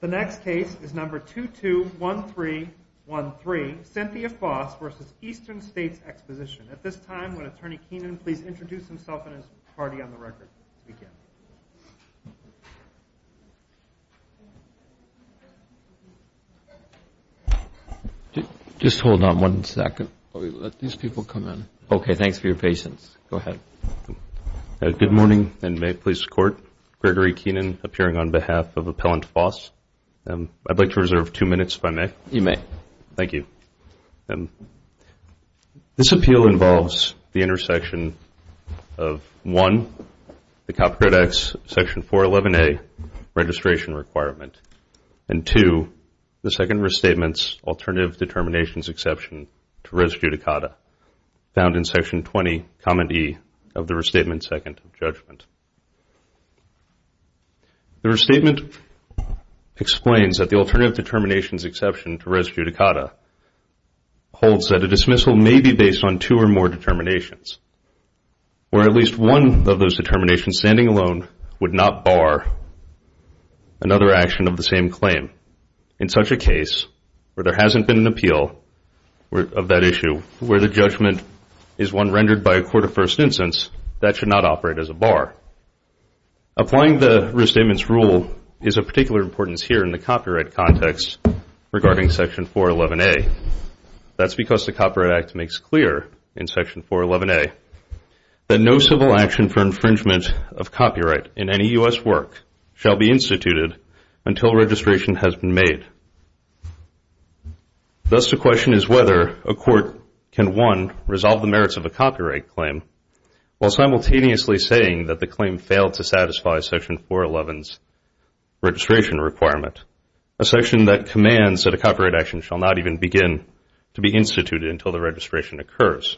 The next case is number 221313, Cynthia Foss v. Eastern States Exposition. At this time, would Attorney Keenan please introduce himself and his party on the record? Just hold on one second while we let these people come in. Okay, thanks for your patience. Go ahead. Good morning, and may it please the Court, Gregory Keenan appearing on behalf of Appellant Foss. I'd like to reserve two minutes if I may. You may. Thank you. This appeal involves the intersection of, one, the Copyright Act's Section 411A registration requirement, and, two, the Second Restatement's alternative determinations exception to res judicata, found in Section 20, Comment E of the Restatement Second of Judgment. The Restatement explains that the alternative determinations exception to res judicata holds that a dismissal may be based on two or more determinations, where at least one of those determinations standing alone would not bar another action of the same claim in such a case where there hasn't been an appeal of that issue, where the judgment is one rendered by a court of first instance, that should not operate as a bar. Applying the Restatement's rule is of particular importance here in the copyright context regarding Section 411A. That's because the Copyright Act makes clear in Section 411A that no civil action for infringement of copyright in any U.S. work shall be instituted until registration has been made. Thus, the question is whether a court can, one, resolve the merits of a copyright claim while simultaneously saying that the claim failed to satisfy Section 411's registration requirement, a section that commands that a copyright action shall not even begin to be instituted until the registration occurs.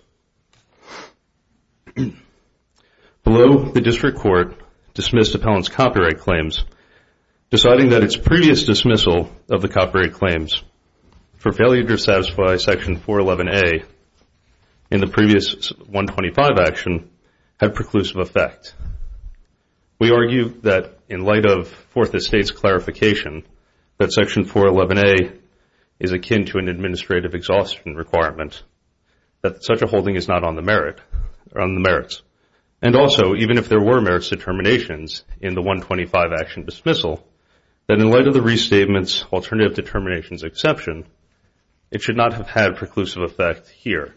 Below, the District Court dismissed Appellant's copyright claims, deciding that its previous dismissal of the copyright claims for failure to satisfy Section 411A in the previous 125 action had preclusive effect. We argue that in light of Fourth Estate's clarification that Section 411A is akin to an administrative exhaustion requirement, that such a holding is not on the merits. And also, even if there were merits determinations in the 125 action dismissal, that in light of the Restatement's alternative determinations exception, it should not have had preclusive effect here.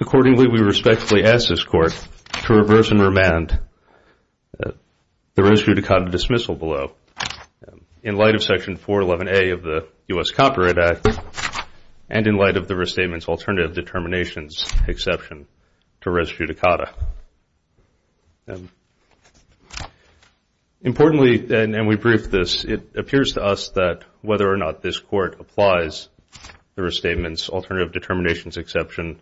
Accordingly, we respectfully ask this Court to reverse and remand the Res judicata dismissal below. In light of Section 411A of the U.S. Copyright Act, and in light of the Restatement's alternative determinations exception to Res judicata. Importantly, and we briefed this, it appears to us that whether or not this Court applies the Restatement's alternative determinations exception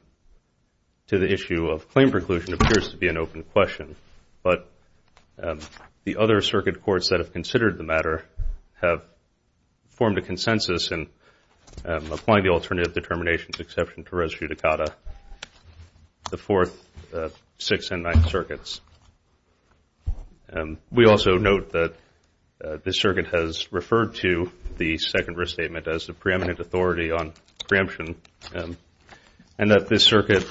to the issue of claim preclusion appears to be an open question. But the other Circuit Courts that have considered the matter have formed a consensus in applying the alternative determinations exception to Res judicata, the Fourth, Sixth, and Ninth Circuits. We also note that this Circuit has referred to the Second Restatement as the preeminent authority on preemption, and that this Circuit,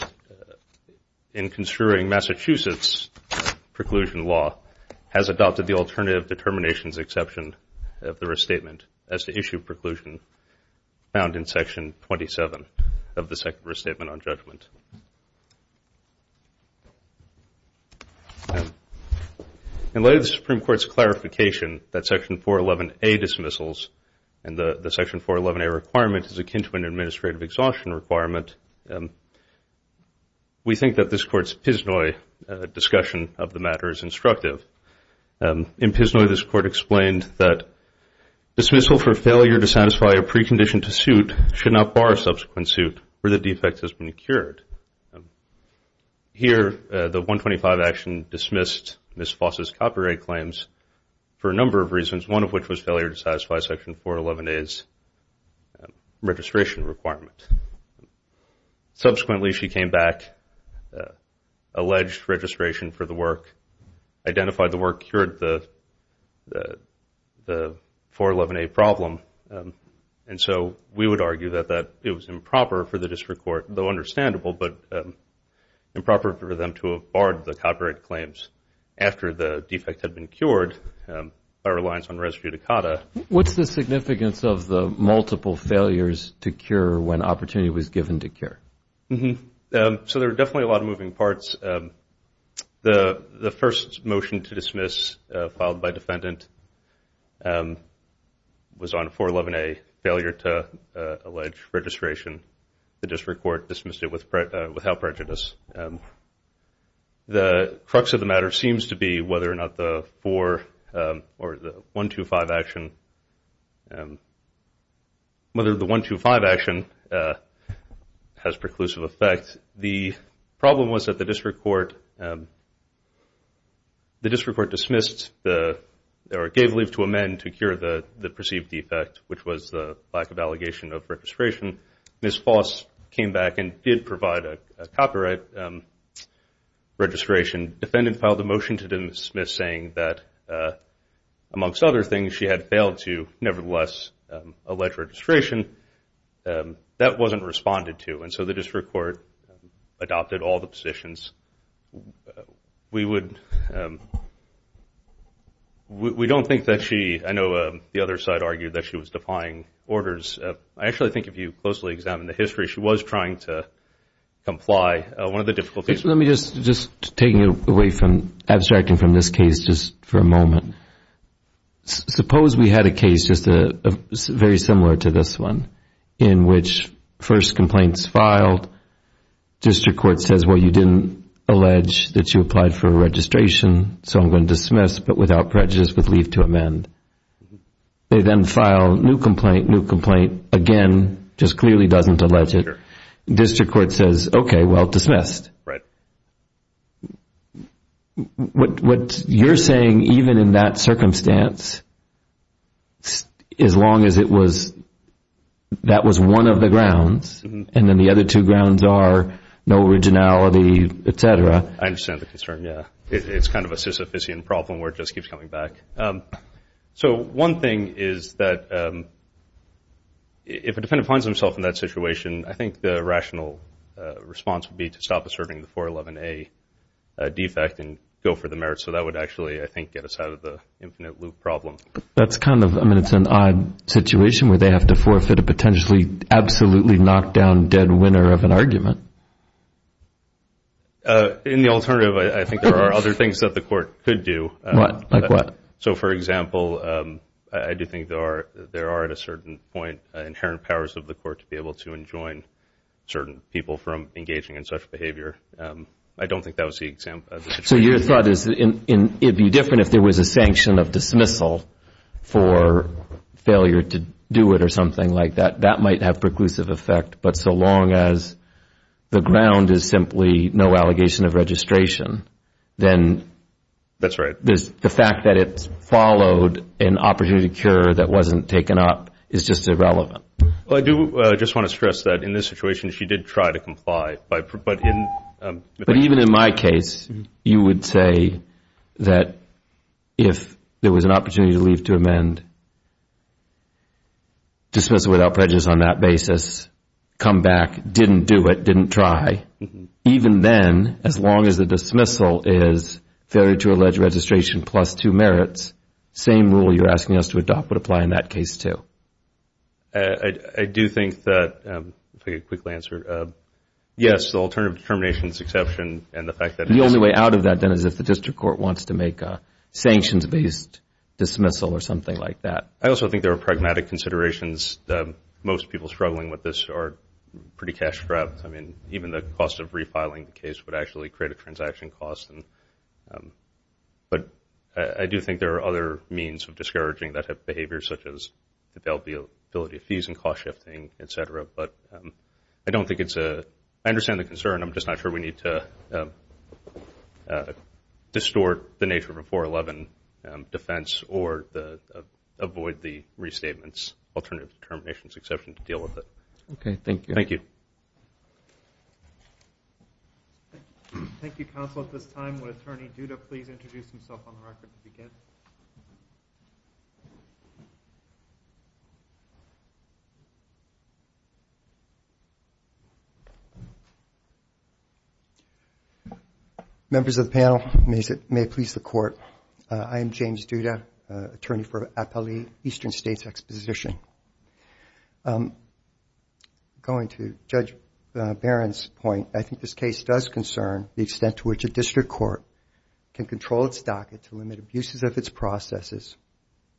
in construing Massachusetts preclusion law, has adopted the alternative determinations exception of the Restatement as the issue preclusion found in Section 27 of the Second Restatement on judgment. In light of the Supreme Court's clarification that Section 411A dismissals and the Section 411A requirement is akin to an administrative exhaustion requirement, we think that this Court's Piznoy discussion of the matter is instructive. In Piznoy, this Court explained that dismissal for failure to satisfy a precondition to suit should not bar a subsequent suit where the defect has been cured. Here, the 125 action dismissed Ms. Foss' copyright claims for a number of reasons, one of which was failure to satisfy Section 411A's registration requirement. Subsequently, she came back, alleged registration for the work, identified the work, cured the 411A problem, and so we would argue that it was improper for the District Court, though understandable, but improper for them to have barred the copyright claims after the defect had been cured by reliance on res judicata. What's the significance of the multiple failures to cure when opportunity was given to cure? So there are definitely a lot of moving parts. The first motion to dismiss filed by defendant was on 411A, failure to allege registration. The District Court dismissed it without prejudice. The crux of the matter seems to be whether or not the 125 action has preclusive effect. The problem was that the District Court dismissed or gave leave to amend to cure the perceived defect, which was the lack of allegation of registration. Ms. Foss came back and did provide a copyright registration. Defendant filed a motion to dismiss saying that, amongst other things, she had failed to nevertheless allege registration. That wasn't responded to, and so the District Court adopted all the positions. We don't think that she – I know the other side argued that she was defying orders. I actually think if you closely examine the history, she was trying to comply. One of the difficulties – Let me just – just taking away from – abstracting from this case just for a moment. Suppose we had a case just very similar to this one in which first complaints filed. District Court says, well, you didn't allege that you applied for registration, so I'm going to dismiss but without prejudice with leave to amend. They then file new complaint, new complaint, again just clearly doesn't allege it. Sure. District Court says, okay, well, dismissed. Right. What you're saying, even in that circumstance, as long as it was – that was one of the grounds and then the other two grounds are no originality, et cetera. I understand the concern, yeah. It's kind of a Sisyphusian problem where it just keeps coming back. So one thing is that if a defendant finds himself in that situation, I think the rational response would be to stop asserting the 411A defect and go for the merits. So that would actually, I think, get us out of the infinite loop problem. That's kind of – I mean, it's an odd situation where they have to forfeit a potentially absolutely knocked down dead winner of an argument. In the alternative, I think there are other things that the court could do. Like what? So, for example, I do think there are at a certain point inherent powers of the court to be able to enjoin certain people from engaging in such behavior. I don't think that was the example. So your thought is it would be different if there was a sanction of dismissal for failure to do it or something like that. That might have preclusive effect, but so long as the ground is simply no allegation of registration, then the fact that it followed an opportunity to cure that wasn't taken up is just irrelevant. Well, I do just want to stress that in this situation she did try to comply. But even in my case, you would say that if there was an opportunity to leave to amend dismissal without prejudice on that basis, come back, didn't do it, didn't try. Even then, as long as the dismissal is failure to allege registration plus two merits, same rule you're asking us to adopt would apply in that case too. I do think that – if I could quickly answer. Yes, the alternative to termination is exception. The only way out of that then is if the district court wants to make a sanctions-based dismissal or something like that. I also think there are pragmatic considerations. Most people struggling with this are pretty cash-strapped. I mean, even the cost of refiling the case would actually create a transaction cost. But I do think there are other means of discouraging that type of behavior, such as availability of fees and cost-shifting, et cetera. But I don't think it's a – I understand the concern. I'm just not sure we need to distort the nature of a 411 defense or avoid the restatements alternative to termination exception to deal with it. Okay, thank you. Thank you, counsel. At this time, would Attorney Duda please introduce himself on the record to begin? Members of the panel, may it please the Court, I am James Duda, attorney for Appali, Eastern States Exposition. Going to Judge Barron's point, I think this case does concern the extent to which a district court can control its docket to limit abuses of its processes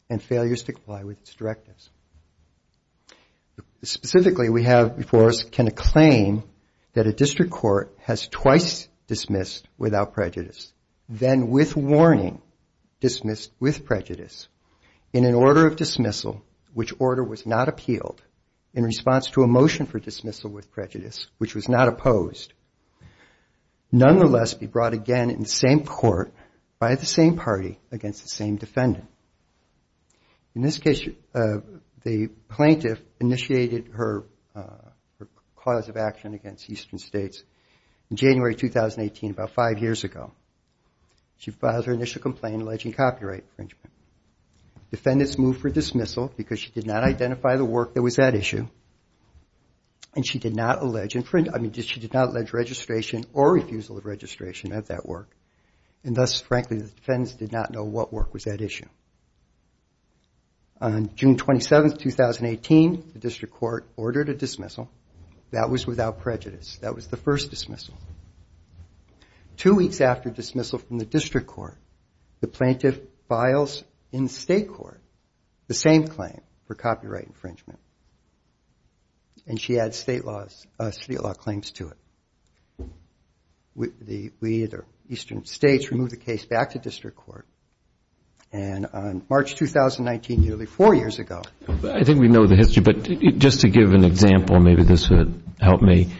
and failures to comply with its directives. Specifically, we have before us can a claim that a district court has twice dismissed without prejudice, then with warning dismissed with prejudice, in an order of dismissal which order was not appealed, in response to a motion for dismissal with prejudice which was not opposed, nonetheless be brought again in the same court by the same party against the same defendant. In this case, the plaintiff initiated her cause of action against Eastern States in January 2018, about five years ago. She filed her initial complaint alleging copyright infringement. Defendants moved for dismissal because she did not identify the work that was at issue and she did not allege, I mean, she did not allege registration or refusal of registration at that work and thus, frankly, the defendants did not know what work was at issue. On June 27, 2018, the district court ordered a dismissal. That was without prejudice. That was the first dismissal. Two weeks after dismissal from the district court, the plaintiff files in state court the same claim for copyright infringement and she adds state law claims to it. We at Eastern States removed the case back to district court and on March 2019, nearly four years ago. I think we know the history, but just to give an example, maybe this would help me.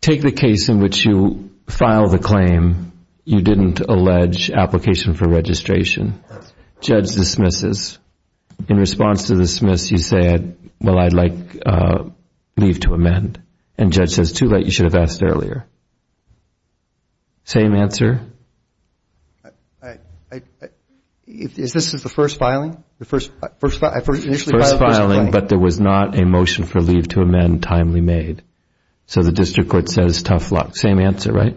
Take the case in which you file the claim you didn't allege application for registration. Judge dismisses. In response to the dismiss, you say, well, I'd like leave to amend and judge says, too late, you should have asked earlier. Same answer? Is this the first filing? First filing, but there was not a motion for leave to amend timely made. So the district court says, tough luck. Same answer, right?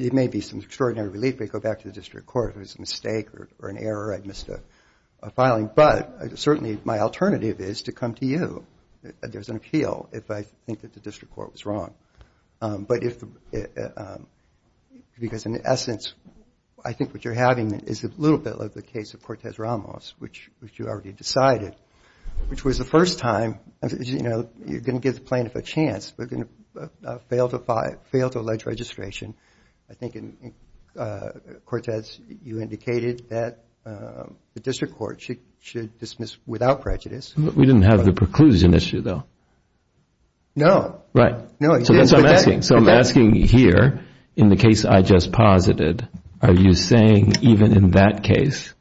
It may be some extraordinary relief, but you go back to the district court. If it was a mistake or an error, I missed a filing, but certainly my alternative is to come to you. There's an appeal if I think that the district court was wrong, because in essence, I think what you're having is a little bit like the case of Cortez-Ramos, which you already decided, which was the first time, you know, you're going to give the plaintiff a chance, but fail to allege registration. I think, Cortez, you indicated that the district court should dismiss without prejudice. We didn't have the preclusion issue, though. Right. So that's what I'm asking. You're saying here, in the case I just posited, are you saying even in that case,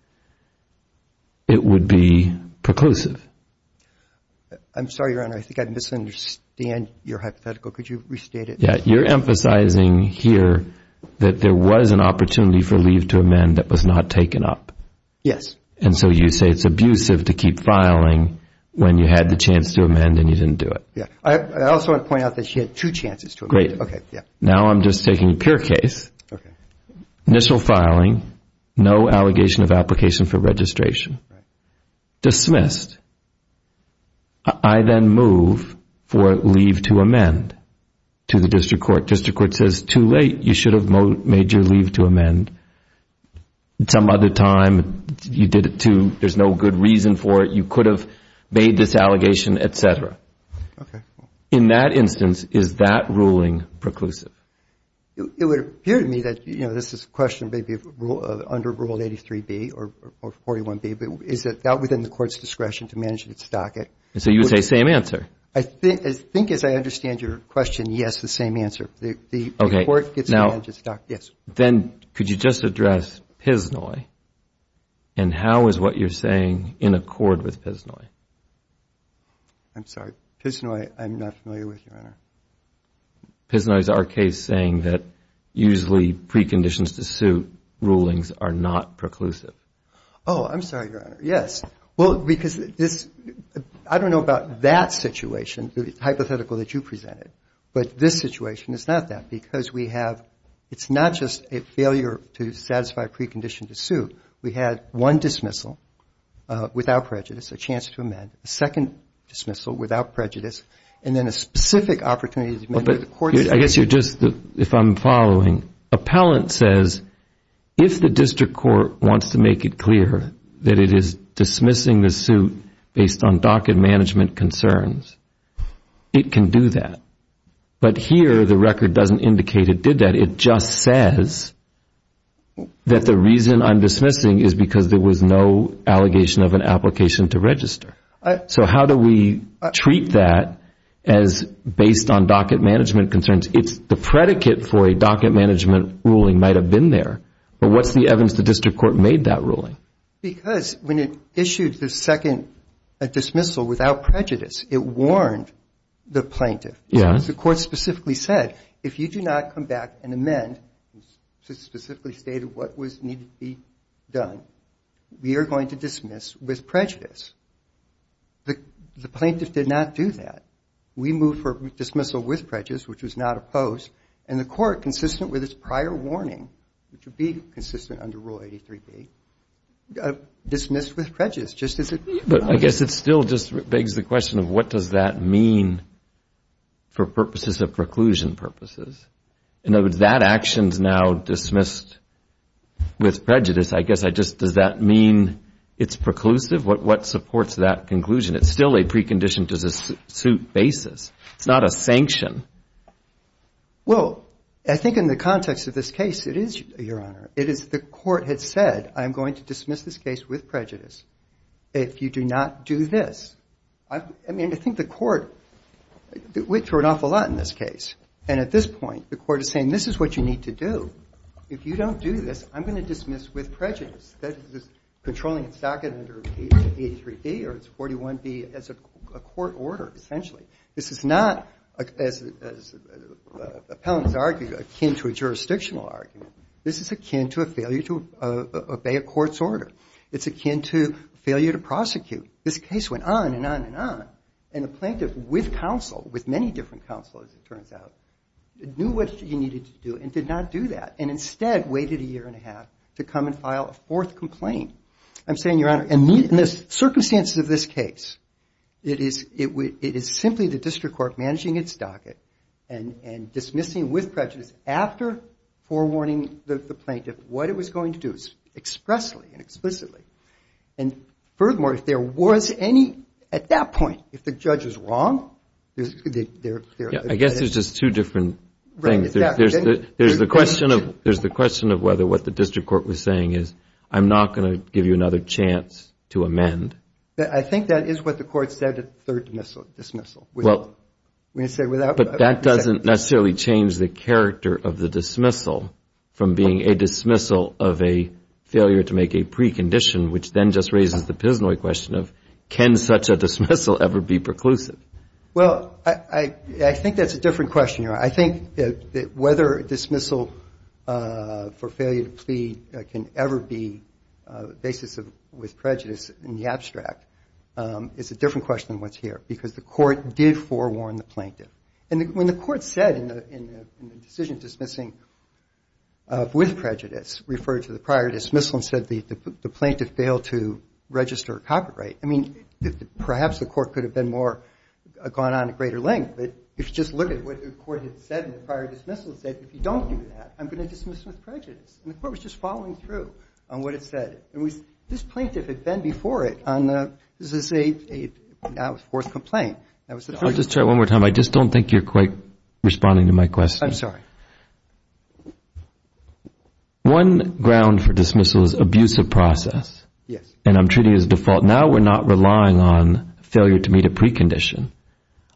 it would be preclusive? I'm sorry, Your Honor, I think I misunderstand your hypothetical. Could you restate it? Yeah, you're emphasizing here that there was an opportunity for leave to amend that was not taken up. Yes. And so you say it's abusive to keep filing when you had the chance to amend and you didn't do it. Yeah. I also want to point out that she had two chances to amend. Okay. Now I'm just taking a pure case. Okay. Initial filing, no allegation of application for registration. Right. Dismissed. I then move for leave to amend to the district court. District court says, too late. You should have made your leave to amend. Some other time, you did it too. There's no good reason for it. You could have made this allegation, et cetera. Okay. In that instance, is that ruling preclusive? It would appear to me that, you know, this is a question maybe under Rule 83B or 41B, but is that within the court's discretion to manage its docket? And so you would say same answer. I think, as I understand your question, yes, the same answer. The court gets to manage its docket. Yes. Then could you just address Piznoy and how is what you're saying in accord with Piznoy? I'm sorry. Piznoy, I'm not familiar with, Your Honor. Piznoy is our case saying that usually preconditions to suit rulings are not preclusive. Oh, I'm sorry, Your Honor. Yes. Well, because this – I don't know about that situation, the hypothetical that you presented, but this situation is not that because we have – it's not just a failure to satisfy precondition to suit. We had one dismissal without prejudice, a chance to amend, a second dismissal without prejudice, and then a specific opportunity to amend. But I guess you're just – if I'm following, appellant says if the district court wants to make it clear that it is dismissing the suit based on docket management concerns, it can do that. But here the record doesn't indicate it did that. It just says that the reason I'm dismissing is because there was no allegation of an application to register. So how do we treat that as based on docket management concerns? It's the predicate for a docket management ruling might have been there, but what's the evidence the district court made that ruling? Because when it issued the second dismissal without prejudice, it warned the plaintiff. Yes. The court specifically said, if you do not come back and amend, specifically stated what was needed to be done, we are going to dismiss with prejudice. The plaintiff did not do that. We moved for dismissal with prejudice, which was not opposed, and the court, consistent with its prior warning, which would be consistent under Rule 83B, dismissed with prejudice, just as it was. But I guess it still just begs the question of what does that mean for purposes of preclusion purposes? In other words, that action is now dismissed with prejudice. I guess I just, does that mean it's preclusive? What supports that conclusion? It's still a precondition to the suit basis. It's not a sanction. Well, I think in the context of this case, it is, Your Honor, it is the court had said, I'm going to dismiss this case with prejudice if you do not do this. I mean, I think the court went through an awful lot in this case, and at this point, the court is saying this is what you need to do. If you don't do this, I'm going to dismiss with prejudice. That is controlling its docket under 83B or it's 41B as a court order, essentially. This is not, as appellants argue, akin to a jurisdictional argument. This is akin to a failure to obey a court's order. It's akin to failure to prosecute. This case went on and on and on, and the plaintiff, with counsel, as it turns out, knew what he needed to do and did not do that, and instead waited a year and a half to come and file a fourth complaint. I'm saying, Your Honor, in the circumstances of this case, it is simply the district court managing its docket and dismissing with prejudice after forewarning the plaintiff what it was going to do expressly and explicitly. And furthermore, if there was any, at that point, if the judge is wrong, I guess there's just two different things. There's the question of whether what the district court was saying is, I'm not going to give you another chance to amend. I think that is what the court said at the third dismissal. But that doesn't necessarily change the character of the dismissal from being a dismissal of a failure to make a precondition, which then just raises the prisoner question of, can such a dismissal ever be preclusive? Well, I think that's a different question, Your Honor. I think that whether a dismissal for failure to plead can ever be the basis with prejudice in the abstract is a different question than what's here, because the court did forewarn the plaintiff. And when the court said in the decision dismissing with prejudice, it referred to the prior dismissal and said the plaintiff failed to register a copyright. I mean, perhaps the court could have been more, gone on at greater length, but if you just look at what the court had said in the prior dismissal, it said if you don't do that, I'm going to dismiss with prejudice. And the court was just following through on what it said. And this plaintiff had been before it on the fourth complaint. I'll just try it one more time. I just don't think you're quite responding to my question. I'm sorry. One ground for dismissal is abusive process. Yes. And I'm treating it as default. Now we're not relying on failure to meet a precondition.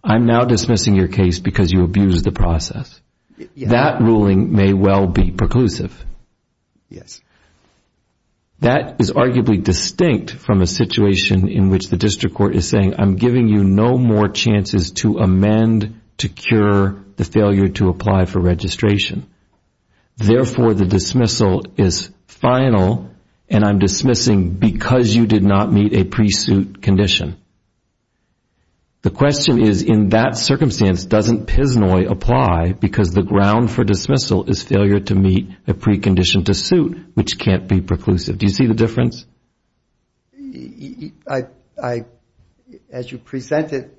I'm now dismissing your case because you abused the process. That ruling may well be preclusive. Yes. That is arguably distinct from a situation in which the district court is saying, I'm giving you no more chances to amend, to cure, the failure to apply for registration. Therefore, the dismissal is final, and I'm dismissing because you did not meet a pre-suit condition. The question is, in that circumstance, doesn't Piznoy apply because the ground for dismissal is failure to meet a precondition to suit, which can't be preclusive? Do you see the difference? As you presented,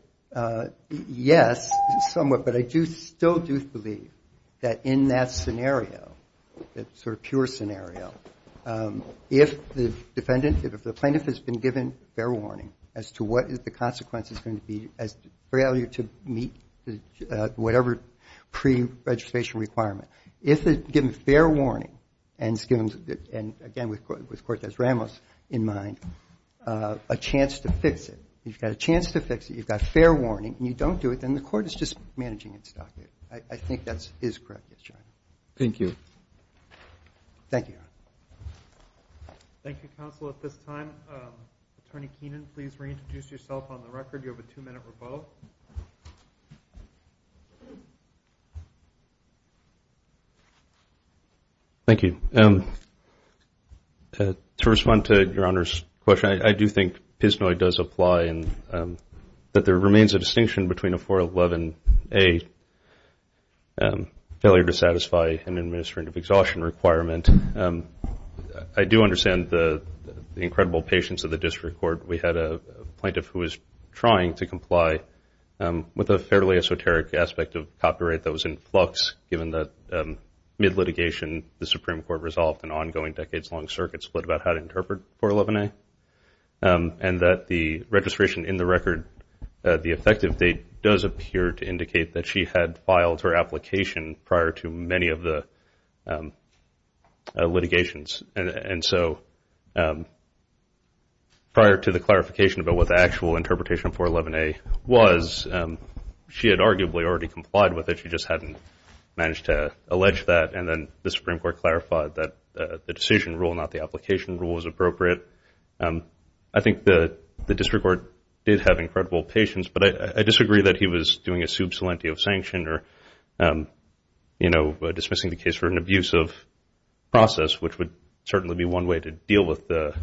yes, somewhat, but I still do believe that in that scenario, that sort of pure scenario, if the plaintiff has been given fair warning as to what the consequence is going to be, as failure to meet whatever pre-registration requirement. If they're given fair warning, and again, with Cortez Ramos in mind, a chance to fix it. You've got a chance to fix it. You've got fair warning, and you don't do it, then the court is just managing its docket. I think that is correct. Thank you. Thank you. Thank you, counsel. At this time, Attorney Keenan, please reintroduce yourself on the record. You have a two-minute rebuttal. Thank you. To respond to Your Honor's question, I do think Piznoy does apply, and that there remains a distinction between a 411A failure to satisfy an administrative exhaustion requirement. I do understand the incredible patience of the district court. We had a plaintiff who was trying to comply with a fairly esoteric aspect of what, mid-litigation, the Supreme Court resolved, an ongoing decades-long circuit split about how to interpret 411A, and that the registration in the record, the effective date does appear to indicate that she had filed her application prior to many of the litigations. And so prior to the clarification about what the actual interpretation of 411A was, she had arguably already complied with it. She just hadn't managed to allege that, and then the Supreme Court clarified that the decision rule, not the application rule, was appropriate. I think the district court did have incredible patience, but I disagree that he was doing a sub salenti of sanction or, you know, dismissing the case for an abusive process, which would certainly be one way to deal with the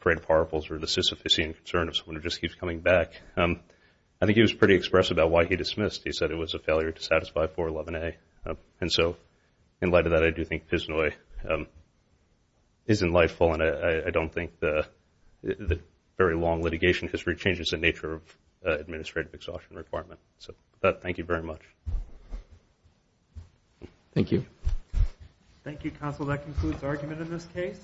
parade of horribles or the sisyphusian concern of someone who just keeps coming back. I think he was pretty expressive about why he dismissed. He said it was a failure to satisfy 411A. And so in light of that, I do think Piznoy is in life, and I don't think the very long litigation history changes the nature of administrative exhaustion requirement. So with that, thank you very much. Thank you. Thank you, counsel. That concludes the argument in this case.